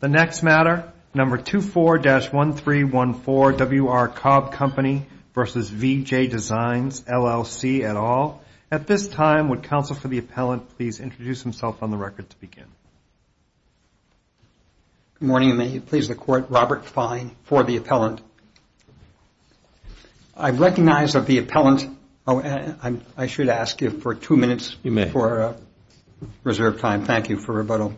The next matter, number 24-1314, W.R. Cobb Company v. VJ Designs, LLC, et al. At this time, would counsel for the appellant please introduce himself on the record to begin? Good morning, and may it please the Court, Robert Fine for the appellant. I recognize that the appellant, I should ask you for two minutes for reserve time. Thank you for rebuttal.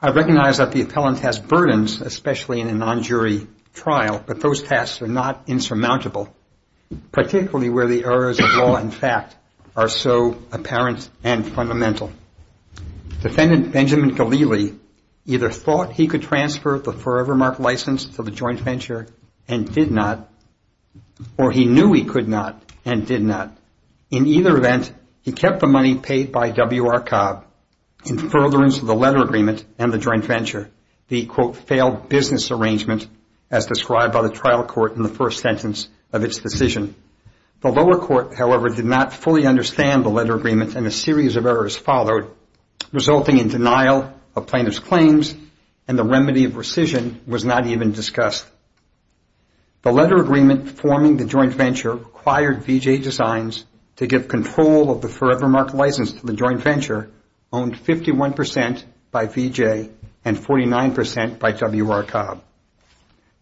I recognize that the appellant has burdens, especially in a non-jury trial, but those tasks are not insurmountable, particularly where the errors of law and fact are so apparent and fundamental. Defendant Benjamin Galili either thought he could transfer the Forevermark license to the joint venture and did not, or he knew he could not and did not. In either event, he kept the money paid by W.R. Cobb in furtherance of the letter agreement and the joint venture, the, quote, failed business arrangement as described by the trial court in the first sentence of its decision. The lower court, however, did not fully understand the letter agreement and a series of errors followed, resulting in denial of plaintiff's claims and the remedy of rescission was not even discussed. The letter agreement forming the joint venture required V.J. Designs to give control of the Forevermark license to the joint venture owned 51 percent by V.J. and 49 percent by W.R. Cobb.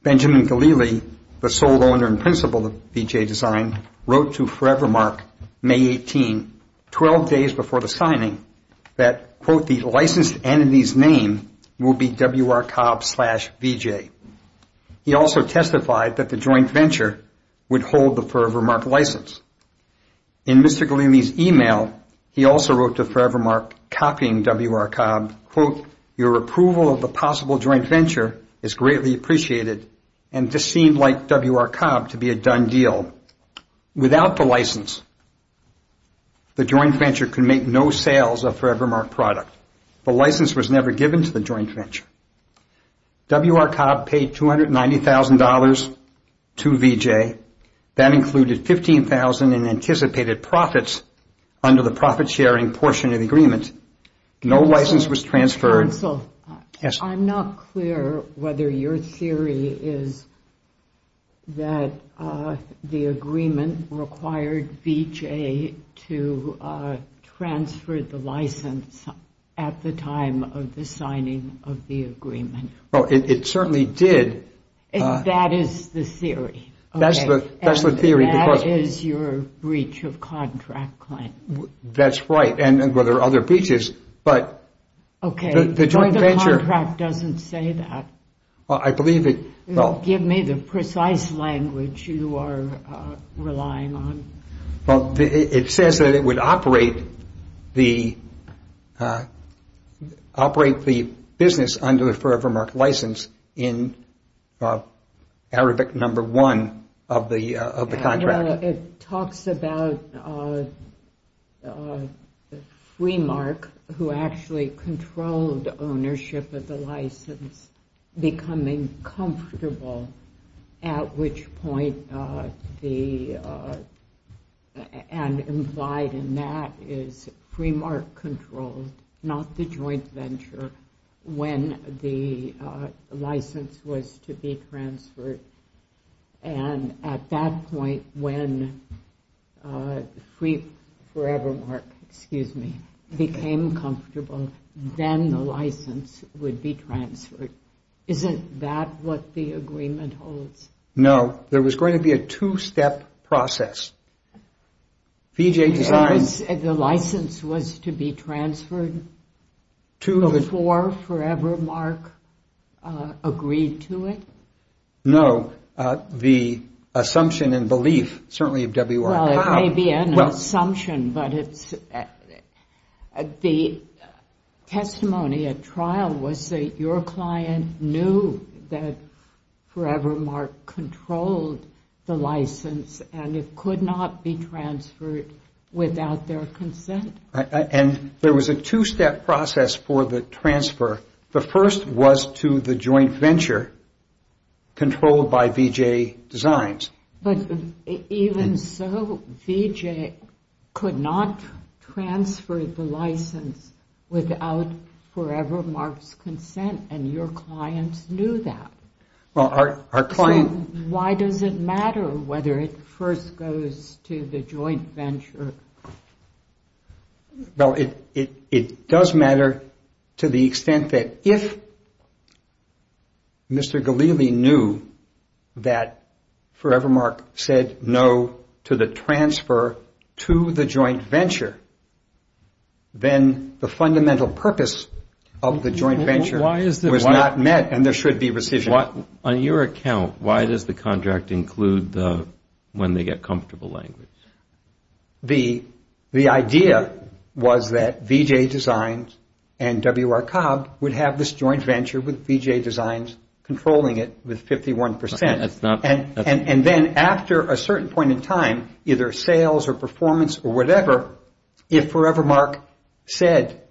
Benjamin Galili, the sole owner and principal of V.J. Design, wrote to Forevermark May 18, 12 days before the signing, that, quote, the licensed entity's name will be W.R. Cobb slash V.J. He also testified that the joint venture would hold the Forevermark license. In Mr. Galili's email, he also wrote to Forevermark copying W.R. Cobb, quote, your approval of the possible joint venture is greatly appreciated and this seemed like W.R. Cobb to be a done deal. Without the license, the joint venture could make no sales of Forevermark product. The license was never given to the joint venture. W.R. Cobb paid $290,000 to V.J. That included $15,000 in anticipated profits under the profit sharing portion of the agreement. No license was transferred. Counsel, I'm not clear whether your theory is that the agreement required V.J. to transfer the license at the time of the signing of the agreement. Well, it certainly did. That is the theory. That's the theory. And that is your breach of contract claim. That's right. Well, there are other breaches, but the joint venture. The contract doesn't say that. I believe it. Give me the precise language you are relying on. Well, it says that it would operate the business under the Forevermark license in Arabic number one of the contract. Well, it talks about Fremark, who actually controlled ownership of the license, becoming comfortable, at which point and implied in that is Fremark controlled, not the joint venture, when the license was to be transferred. And at that point when Forevermark became comfortable, then the license would be transferred. Isn't that what the agreement holds? No. There was going to be a two-step process. The license was to be transferred before Forevermark agreed to it? No. The assumption and belief, certainly of W.R. Powell. Well, it may be an assumption, but the testimony at trial was that your client knew that Forevermark controlled the license and it could not be transferred without their consent. And there was a two-step process for the transfer. The first was to the joint venture controlled by V.J. Designs. But even so, V.J. could not transfer the license without Forevermark's consent and your clients knew that. Well, our client... So why does it matter whether it first goes to the joint venture? Well, it does matter to the extent that if Mr. Gallili knew that Forevermark said no to the transfer to the joint venture, then the fundamental purpose of the joint venture was not met and there should be rescission. On your account, why does the contract include the when they get comfortable language? The idea was that V.J. Designs and W.R. Cobb would have this joint venture with V.J. Designs controlling it with 51%. And then after a certain point in time, either sales or performance or whatever, if Forevermark said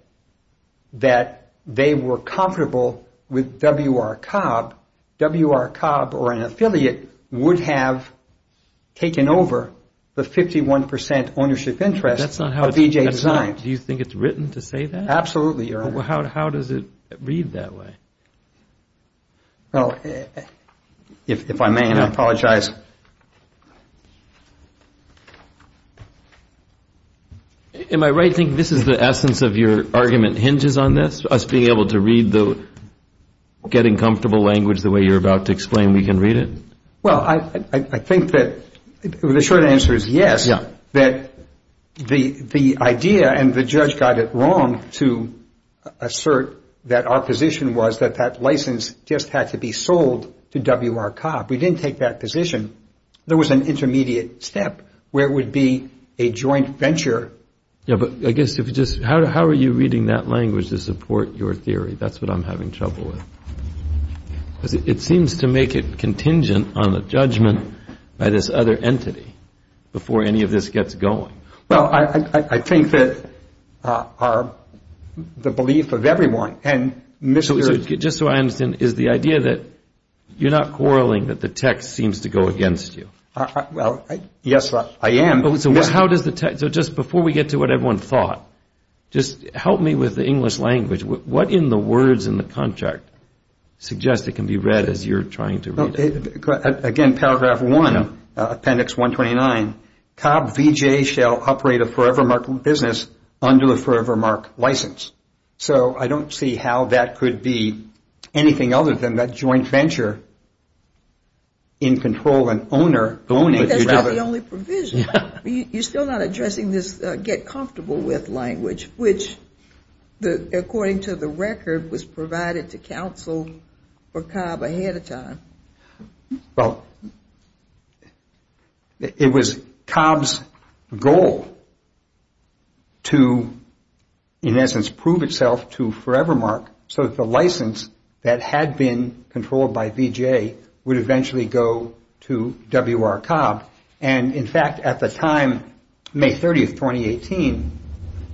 that they were comfortable with W.R. Cobb, W.R. Cobb or an affiliate would have taken over the 51% ownership interest of V.J. Designs. Do you think it's written to say that? Absolutely, Your Honor. Well, how does it read that way? Well, if I may, and I apologize. Am I right to think this is the essence of your argument hinges on this, us being able to read the getting comfortable language the way you're about to explain we can read it? Well, I think that the short answer is yes. That the idea and the judge got it wrong to assert that our position was that that license just had to be sold to W.R. Cobb. We didn't take that position. There was an intermediate step where it would be a joint venture. Yeah, but I guess if you just how are you reading that language to support your theory? That's what I'm having trouble with. It seems to make it contingent on the judgment by this other entity before any of this gets going. Well, I think that the belief of everyone and Mr. Just so I understand, is the idea that you're not quarreling that the text seems to go against you? Well, yes, I am. So just before we get to what everyone thought, just help me with the English language. What in the words in the contract suggests it can be read as you're trying to read it? Again, Paragraph 1, Appendix 129, Cobb V.J. shall operate a Forevermark business under a Forevermark license. So I don't see how that could be anything other than that joint venture in control and owner. But that's not the only provision. You're still not addressing this get comfortable with language, which according to the record, was provided to counsel for Cobb ahead of time. Well, it was Cobb's goal to, in essence, prove itself to Forevermark so that the license that had been controlled by V.J. would eventually go to W.R. Cobb. And in fact, at the time, May 30, 2018,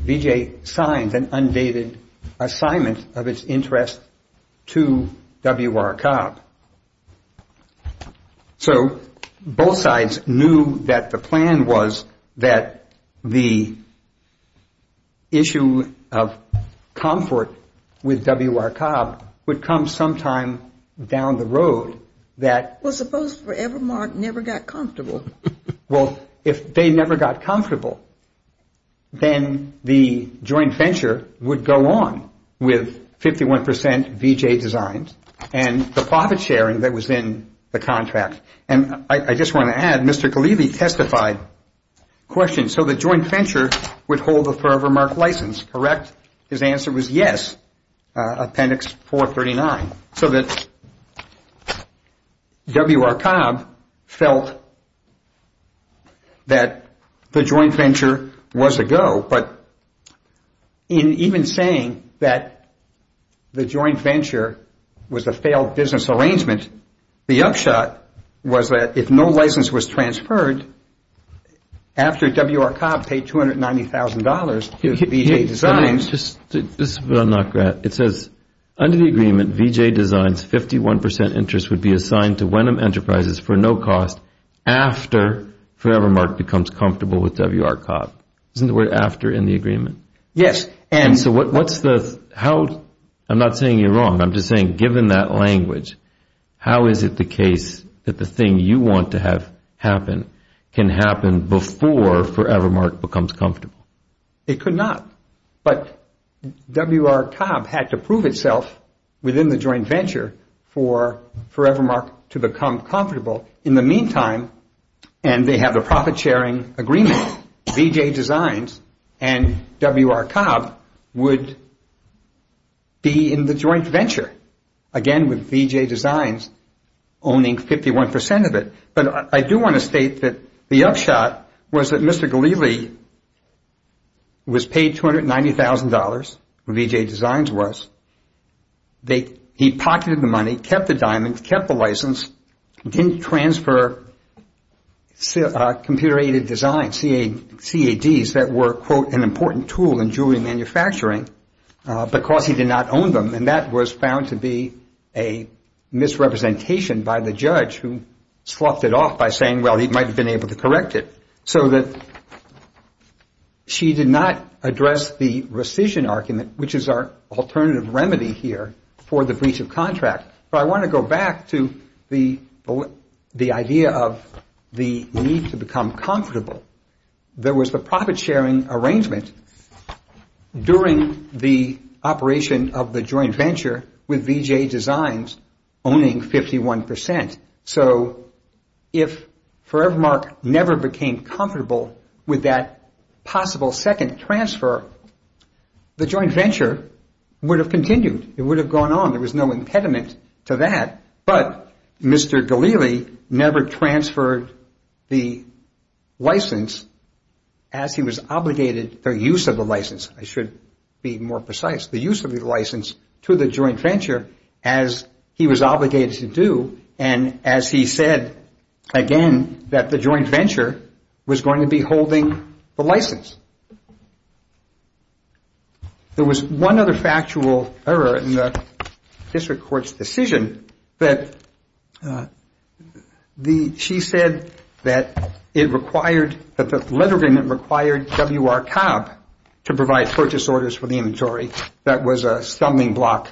V.J. signed an undated assignment of its interest to W.R. Cobb. So both sides knew that the plan was that the issue of comfort with W.R. Well, suppose Forevermark never got comfortable. Well, if they never got comfortable, then the joint venture would go on with 51 percent V.J. designs and the profit sharing that was in the contract. And I just want to add, Mr. Kalevi testified. Question, so the joint venture would hold the Forevermark license, correct? His answer was yes. Appendix 439. So that W.R. Cobb felt that the joint venture was a go. But in even saying that the joint venture was a failed business arrangement, the upshot was that if no license was after W.R. Cobb paid $290,000 to V.J. Designs. This is where I'm not great. It says under the agreement, V.J. Designs, 51 percent interest would be assigned to Wenham Enterprises for no cost after Forevermark becomes comfortable with W.R. Cobb. Isn't the word after in the agreement? Yes. And so what's the how? I'm not saying you're wrong. I'm just saying, given that language, how is it the case that the thing you want to have happen? Can happen before Forevermark becomes comfortable? It could not. But W.R. Cobb had to prove itself within the joint venture for Forevermark to become comfortable. In the meantime, and they have a profit-sharing agreement, V.J. Designs and W.R. Cobb would be in the joint venture. Again, with V.J. Designs owning 51 percent of it. But I do want to state that the upshot was that Mr. Gallili was paid $290,000, V.J. Designs was. He pocketed the money, kept the diamonds, kept the license, didn't transfer computer-aided designs, CADs, that were, quote, an important tool in jewelry manufacturing because he did not own them. And that was found to be a misrepresentation by the judge who sloughed it off by saying, well, he might have been able to correct it. So that she did not address the rescission argument, which is our alternative remedy here for the breach of contract. But I want to go back to the the idea of the need to become comfortable. There was the profit-sharing arrangement during the operation of the joint venture with V.J. Designs owning 51 percent. So if Forevermark never became comfortable with that possible second transfer, the joint venture would have continued. It would have gone on. There was no impediment to that. But Mr. Gallili never transferred the license as he was obligated for use of the license. I should be more precise, the use of the license to the joint venture as he was obligated to do. And as he said again, that the joint venture was going to be holding the license. There was one other factual error in the district court's decision that she said that it required, that the letter agreement required W.R. Cobb to provide purchase orders for the inventory. That was a stumbling block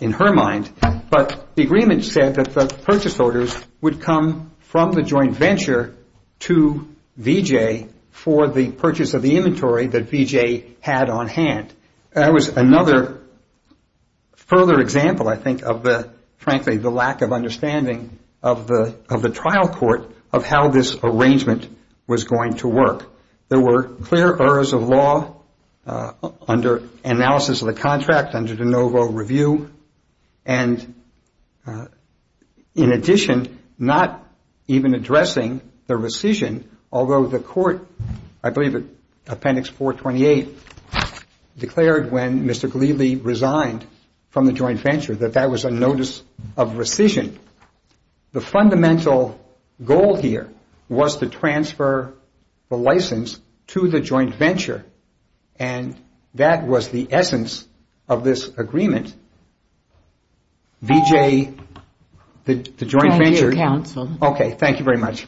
in her mind. But the agreement said that the purchase orders would come from the joint venture to V.J. for the purchase of the inventory that V.J. had on hand. That was another further example, I think, of the, frankly, the lack of understanding of the trial court of how this arrangement was going to work. There were clear errors of law under analysis of the contract, under de novo review. And in addition, not even addressing the rescission, although the court, I believe, Appendix 428 declared when Mr. Gallili resigned from the joint venture that that was a notice of rescission. The fundamental goal here was to transfer the license to the joint venture. And that was the essence of this agreement. V.J., the joint venture. Thank you, Counsel. Okay. Thank you very much.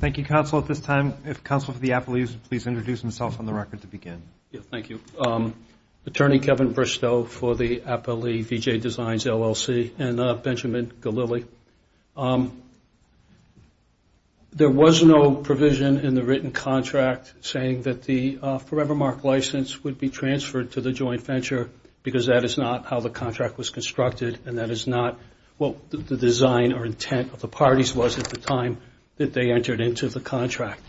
Thank you, Counsel. At this time, if Counsel for the Appellee would please introduce himself on the record to begin. Thank you. Attorney Kevin Bristow for the Appellee V.J. Designs, LLC, and Benjamin Gallili. There was no provision in the written contract saying that the Forevermark license would be transferred to the joint venture because that is not how the contract was constructed, and that is not what the design or intent of the parties was at the time that they entered into the contract.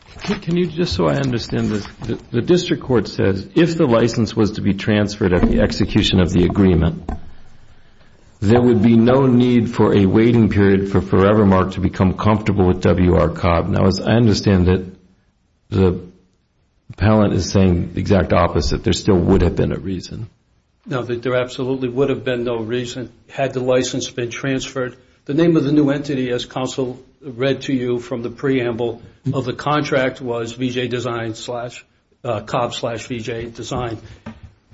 Can you just so I understand this? The district court says if the license was to be transferred at the execution of the agreement, there would be no need for a waiting period for Forevermark to become comfortable with WR-COB. Now, as I understand it, the appellant is saying the exact opposite. There still would have been a reason. No, there absolutely would have been no reason had the license been transferred. The name of the new entity, as Counsel read to you from the preamble of the contract, was V.J. Designs slash COB slash V.J. Design.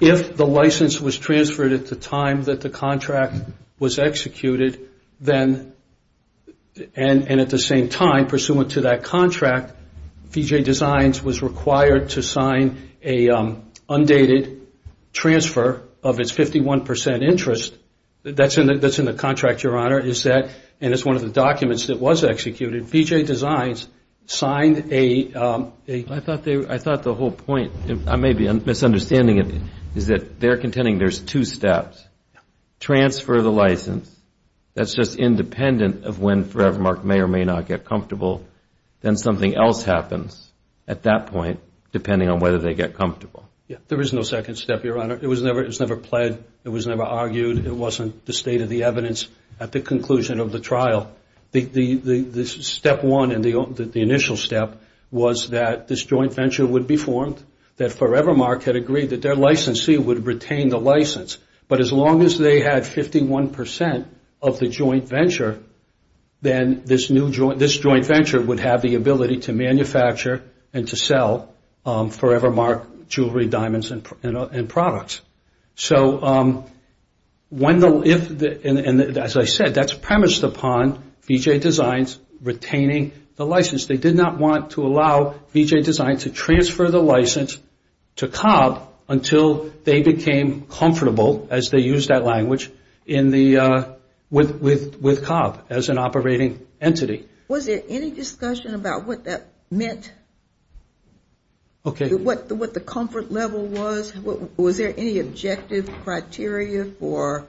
If the license was transferred at the time that the contract was executed, then and at the same time pursuant to that contract, V.J. Designs was required to sign an undated transfer of its 51 percent interest. That is in the contract, Your Honor, and it is one of the documents that was executed. V.J. Designs signed a... I thought the whole point, I may be misunderstanding it, is that they're contending there's two steps. Transfer the license. That's just independent of when Forevermark may or may not get comfortable. Then something else happens at that point depending on whether they get comfortable. There is no second step, Your Honor. It was never pled. It was never argued. It wasn't the state of the evidence at the conclusion of the trial. The step one and the initial step was that this joint venture would be formed, that Forevermark had agreed that their licensee would retain the license. But as long as they had 51 percent of the joint venture, then this joint venture would have the ability to manufacture and to sell Forevermark jewelry, diamonds, and products. As I said, that's premised upon V.J. Designs retaining the license. They did not want to allow V.J. Designs to transfer the license to Cobb until they became comfortable, as they used that language, with Cobb as an operating entity. Was there any discussion about what that meant, what the comfort level was? Was there any objective criteria for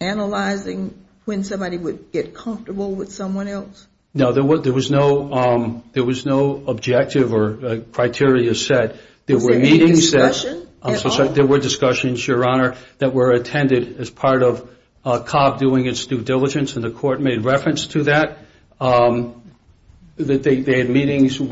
analyzing when somebody would get comfortable with someone else? No, there was no objective or criteria set. Was there any discussion at all? There were discussions, Your Honor, that were attended as part of Cobb doing its due diligence, and the court made reference to that. They had meetings in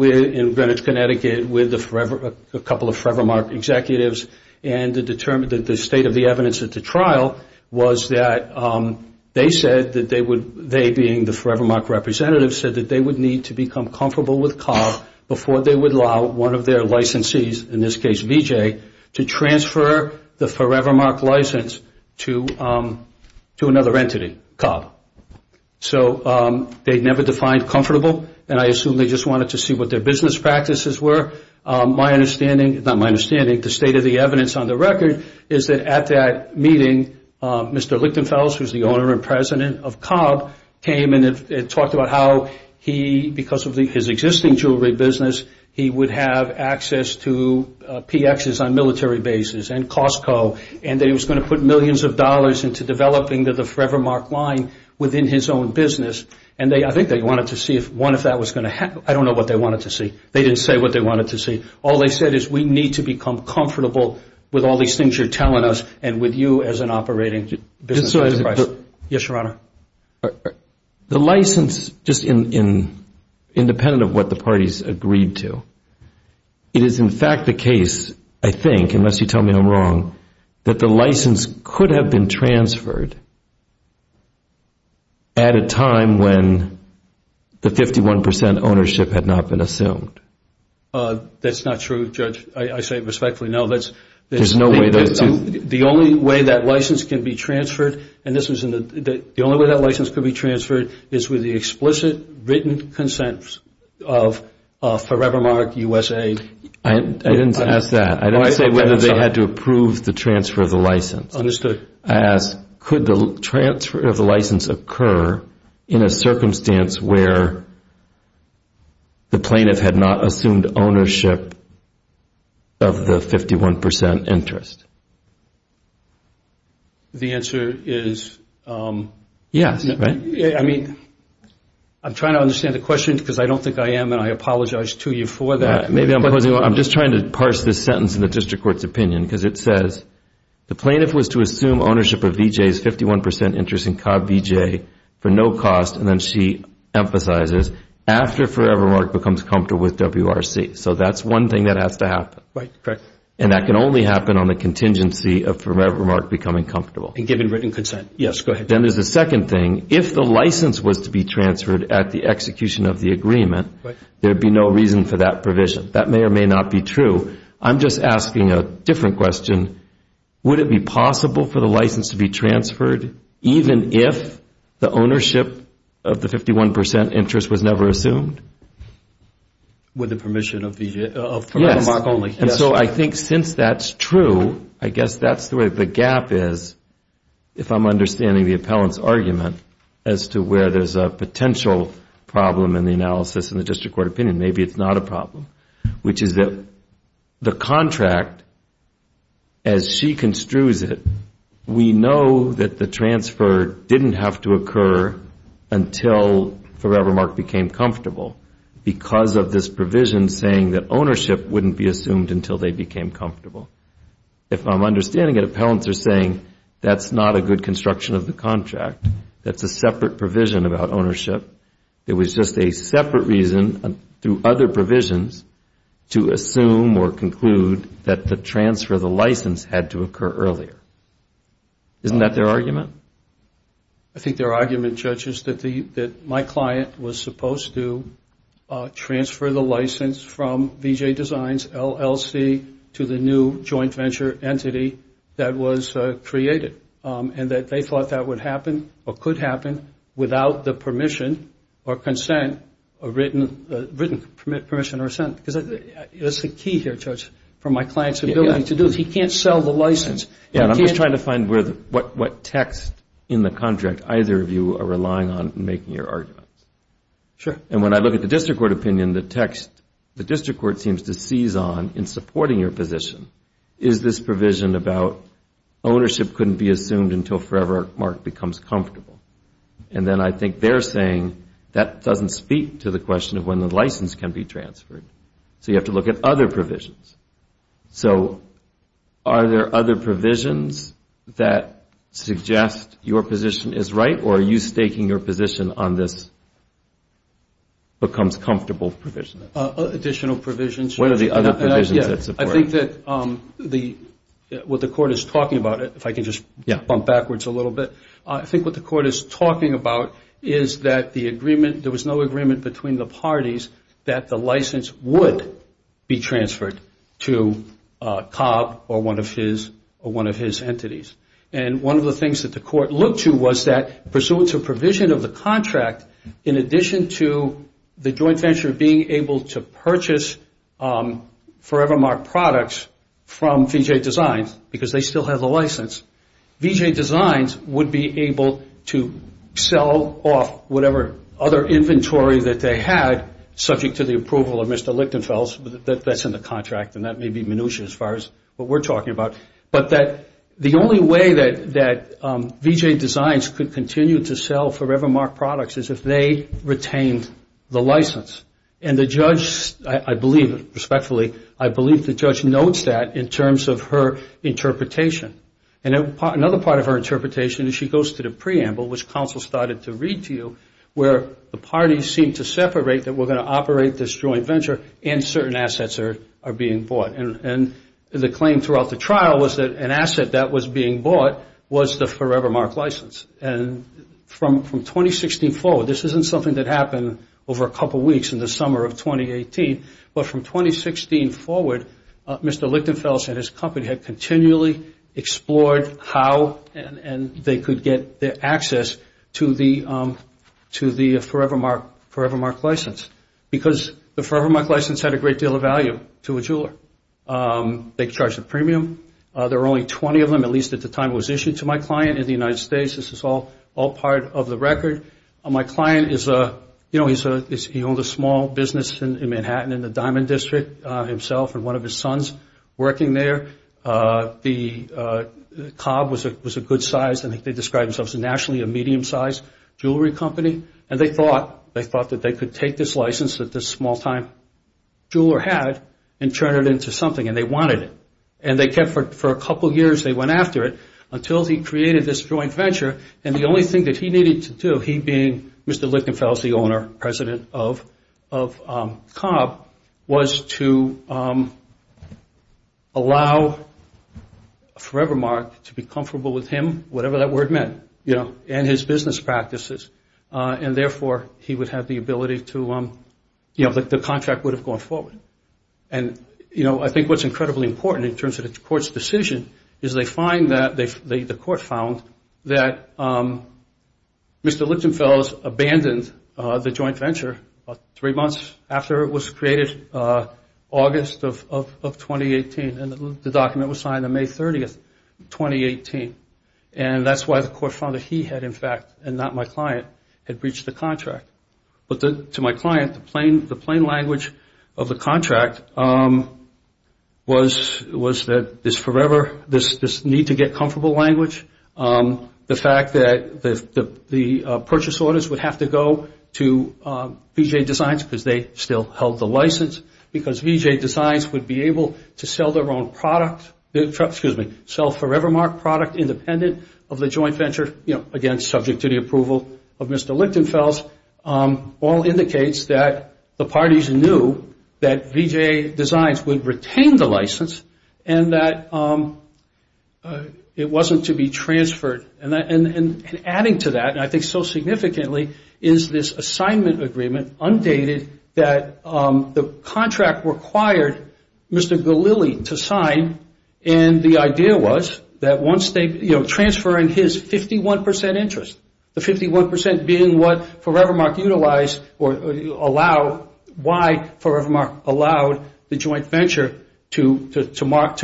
Greenwich, Connecticut with a couple of Forevermark executives, and the state of the evidence at the trial was that they said that they would, they being the Forevermark representatives, said that they would need to become comfortable with Cobb before they would allow one of their licensees, in this case V.J., to transfer the Forevermark license to another entity, Cobb. So they never defined comfortable, and I assume they just wanted to see what their business practices were. My understanding, not my understanding, the state of the evidence on the record is that at that meeting, Mr. Lichtenfels, who is the owner and president of Cobb, came and talked about how he, because of his existing jewelry business, he would have access to PXs on military bases and Costco, and that he was going to put millions of dollars into developing the Forevermark line within his own business, and I think they wanted to see if one of that was going to happen. I don't know what they wanted to see. They didn't say what they wanted to see. All they said is we need to become comfortable with all these things you're telling us and with you as an operating business enterprise. Yes, Your Honor. The license, just independent of what the parties agreed to, it is, in fact, the case, I think, unless you tell me I'm wrong, that the license could have been transferred at a time when the 51 percent ownership had not been assumed. That's not true, Judge. I say it respectfully. No, that's... There's no way those two... The only way that license can be transferred, and this was in the... is with the explicit written consent of Forevermark USA. I didn't ask that. I didn't say whether they had to approve the transfer of the license. I asked could the transfer of the license occur in a circumstance where the plaintiff had not assumed ownership of the 51 percent interest. The answer is... Yes. I mean, I'm trying to understand the question because I don't think I am and I apologize to you for that. I'm just trying to parse this sentence in the district court's opinion because it says, the plaintiff was to assume ownership of Vijay's 51 percent interest in Cobb Vijay for no cost, and then she emphasizes after Forevermark becomes comfortable with WRC. So that's one thing that has to happen. Right, correct. And that can only happen on the contingency of Forevermark becoming comfortable. And given written consent. Yes, go ahead. Then there's a second thing. If the license was to be transferred at the execution of the agreement, there would be no reason for that provision. That may or may not be true. I'm just asking a different question. Would it be possible for the license to be transferred even if the ownership of the 51 percent interest was never assumed? With the permission of Forevermark only. And so I think since that's true, I guess that's the way the gap is, if I'm understanding the appellant's argument as to where there's a potential problem in the analysis in the district court opinion. Maybe it's not a problem, which is that the contract, as she construes it, we know that the transfer didn't have to occur until Forevermark became comfortable because of this provision saying that ownership wouldn't be assumed until they became comfortable. If I'm understanding it, appellants are saying that's not a good construction of the contract. That's a separate provision about ownership. It was just a separate reason through other provisions to assume or conclude that the transfer of the license had to occur earlier. Isn't that their argument? I think their argument, Judge, is that my client was supposed to transfer the license from VJ Designs, LLC, to the new joint venture entity that was created and that they thought that would happen or could happen without the permission or consent or written permission or assent. That's the key here, Judge, for my client's ability to do. He can't sell the license. I'm just trying to find what text in the contract either of you are relying on in making your arguments. When I look at the district court opinion, the text the district court seems to seize on in supporting your position is this provision about ownership couldn't be assumed until Forevermark becomes comfortable. Then I think they're saying that doesn't speak to the question of when the license can be transferred. So you have to look at other provisions. So are there other provisions that suggest your position is right or are you staking your position on this becomes comfortable provision? Additional provisions. What are the other provisions that support it? I think that what the court is talking about, if I can just bump backwards a little bit, I think what the court is talking about is that there was no agreement between the parties that the license would be transferred to Cobb or one of his entities. And one of the things that the court looked to was that pursuant to provision of the contract, in addition to the joint venture being able to purchase Forevermark products from VJ Designs, because they still have the license, VJ Designs would be able to sell off whatever other inventory that they had, subject to the approval of Mr. Lichtenfeld, that's in the contract, and that may be minutia as far as what we're talking about. But the only way that VJ Designs could continue to sell Forevermark products is if they retained the license. And the judge, I believe, respectfully, I believe the judge notes that in terms of her interpretation. And another part of her interpretation is she goes to the preamble, which counsel started to read to you, where the parties seem to separate that we're going to operate this joint venture and certain assets are being bought. And the claim throughout the trial was that an asset that was being bought was the Forevermark license. And from 2016 forward, this isn't something that happened over a couple weeks in the summer of 2018, but from 2016 forward, Mr. Lichtenfeld and his company had continually explored how and they could get their access to the Forevermark license, because the Forevermark license had a great deal of value to a jeweler. They charged a premium. There were only 20 of them, at least at the time it was issued to my client in the United States. This is all part of the record. My client is a, you know, he owns a small business in Manhattan in the Diamond District himself and one of his sons working there. The Cobb was a good size. I think they described themselves as nationally a medium-sized jewelry company. And they thought that they could take this license that this small-time jeweler had and turn it into something, and they wanted it. And they kept it for a couple years. They went after it until he created this joint venture. And the only thing that he needed to do, he being Mr. Lichtenfeld, the owner, president of Cobb, was to allow Forevermark to be comfortable with him, whatever that word meant, you know, and his business practices, and therefore he would have the ability to, you know, the contract would have gone forward. And, you know, I think what's incredibly important in terms of the court's decision is they find that, the court found that Mr. Lichtenfeld abandoned the joint venture three months after it was created, August of 2018, and the document was signed on May 30th, 2018. And that's why the court found that he had, in fact, and not my client, had breached the contract. But to my client, the plain language of the contract was that this Forever, this need to get comfortable language, the fact that the purchase orders would have to go to VJ Designs because they still held the license, because VJ Designs would be able to sell their own product, excuse me, sell Forevermark product independent of the joint venture, you know, again, subject to the approval of Mr. Lichtenfeld, all indicates that the parties knew that VJ Designs would retain the license and that it wasn't to be transferred. And adding to that, and I think so significantly, is this assignment agreement undated that the contract required Mr. Lichtenfeld only to sign, and the idea was that once they, you know, transferring his 51% interest, the 51% being what Forevermark utilized or allow, why Forevermark allowed the joint venture to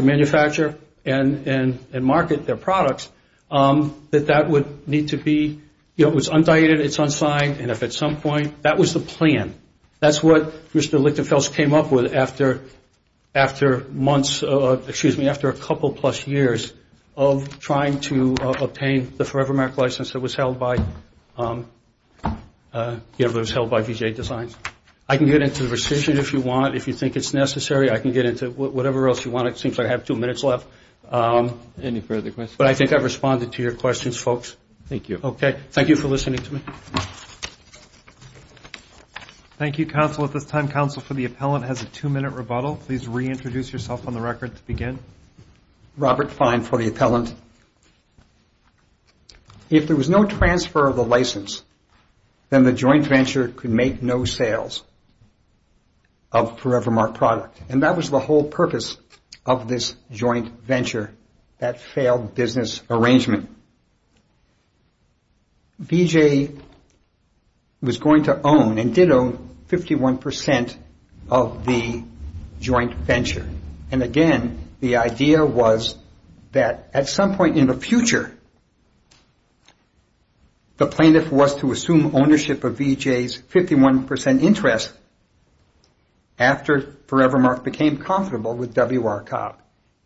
manufacture and market their products, that that would need to be, you know, it was undated, it's unsigned, and if at some point, that was the plan. That's what Mr. Lichtenfeld came up with after months, excuse me, after a couple plus years of trying to obtain the Forevermark license that was held by VJ Designs. I can get into the rescission if you want, if you think it's necessary, I can get into whatever else you want. It seems I have two minutes left. Any further questions? But I think I've responded to your questions, folks. Thank you. Okay. Thank you for listening to me. Thank you, counsel. At this time, counsel for the appellant has a two-minute rebuttal. Please reintroduce yourself on the record to begin. Robert Fine for the appellant. If there was no transfer of the license, then the joint venture could make no sales of Forevermark product, and that was the whole purpose of this joint venture, that failed business arrangement. VJ was going to own and did own 51% of the joint venture, and again, the idea was that at some point in the future, the plaintiff was to assume ownership of VJ's 51% interest after Forevermark became comfortable with WRCOP.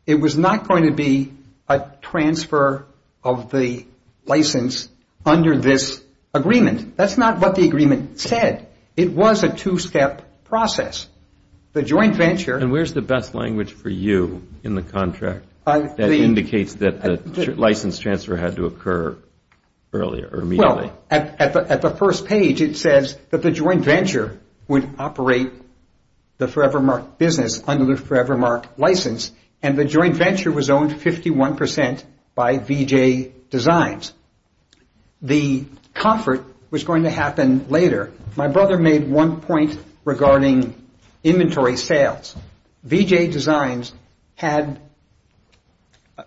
It was not going to be a transfer of the license under this agreement. That's not what the agreement said. It was a two-step process. The joint venture And where's the best language for you in the contract that indicates that the license transfer had to occur earlier or immediately? Well, at the first page, it says that the joint venture would operate the Forevermark business under the Forevermark license, and the joint venture was owned 51% by VJ Designs. The comfort was going to happen later. My brother made one point regarding inventory sales. VJ Designs had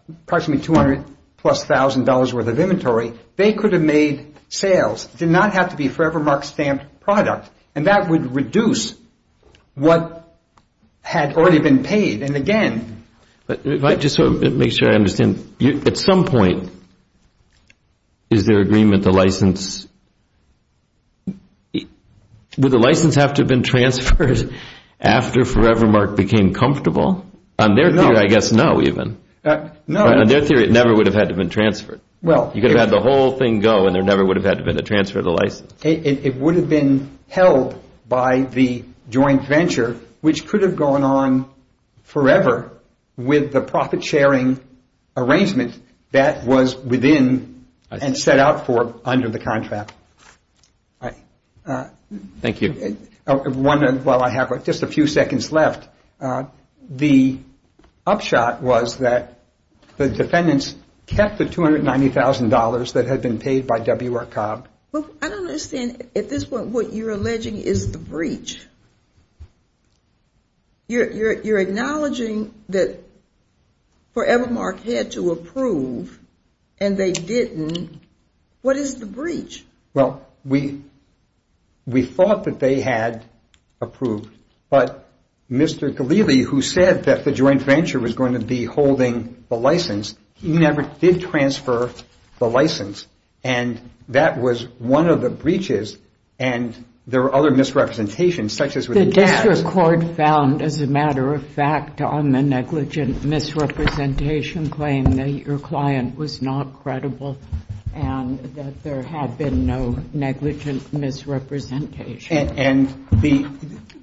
approximately $200,000-plus worth of inventory. They could have made sales. It did not have to be Forevermark stamped product, and that would reduce what had already been paid, and again Just to make sure I understand, at some point, is there agreement the license... Would the license have to have been transferred after Forevermark became comfortable? On their theory, I guess no, even. On their theory, it never would have had to have been transferred. You could have had the whole thing go, and there never would have had to have been a transfer of the license. It would have been held by the joint venture, which could have gone on forever with the profit-sharing arrangement that was within and set out for under the contract. Thank you. While I have just a few seconds left, the upshot was that the defendants kept the $290,000 that had been paid by WR Cobb. I don't understand. At this point, what you're alleging is the breach. You're acknowledging that Forevermark had to approve, and they didn't. What is the breach? Well, we thought that they had approved, but Mr. Ghalili, who said that the joint venture was going to be holding the license, he never did transfer the license, and that was one of the breaches, and there were other misrepresentations, such as with the dash. The district court found, as a matter of fact, on the negligent misrepresentation claim that your client was not credible, and that there had been no negligent misrepresentation.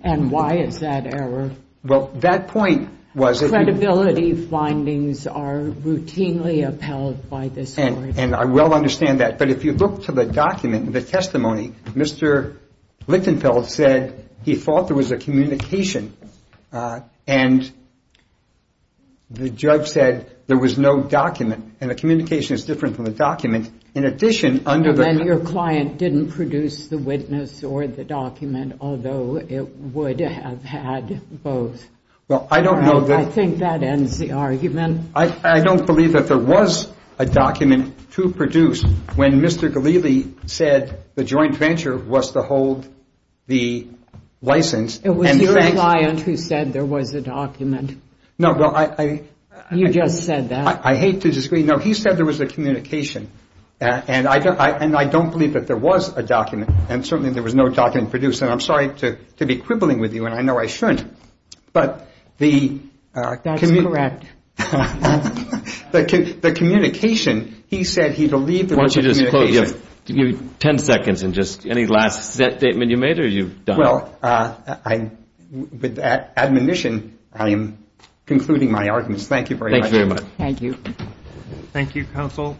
And why is that error? Well, that point was that you ---- Credibility findings are routinely upheld by this court. And I well understand that. But if you look to the document, the testimony, Mr. Lichtenfeld said he thought there was a communication, and the judge said there was no document, and the communication is different from the document. In addition, under the ---- Well, I don't know that ---- I think that ends the argument. I don't believe that there was a document to produce when Mr. Ghalili said the joint venture was to hold the license. It was your client who said there was a document. No, well, I ---- You just said that. I hate to disagree. No, he said there was a communication, and I don't believe that there was a document, and certainly there was no document to produce. And I'm sorry to be quibbling with you, and I know I shouldn't, but the ---- That's correct. The communication, he said he believed there was a communication. Why don't you just close? Give me 10 seconds and just ---- Any last statement you made or you've done? Well, with that admonition, I am concluding my arguments. Thank you very much. Thank you very much. Thank you. Thank you, counsel.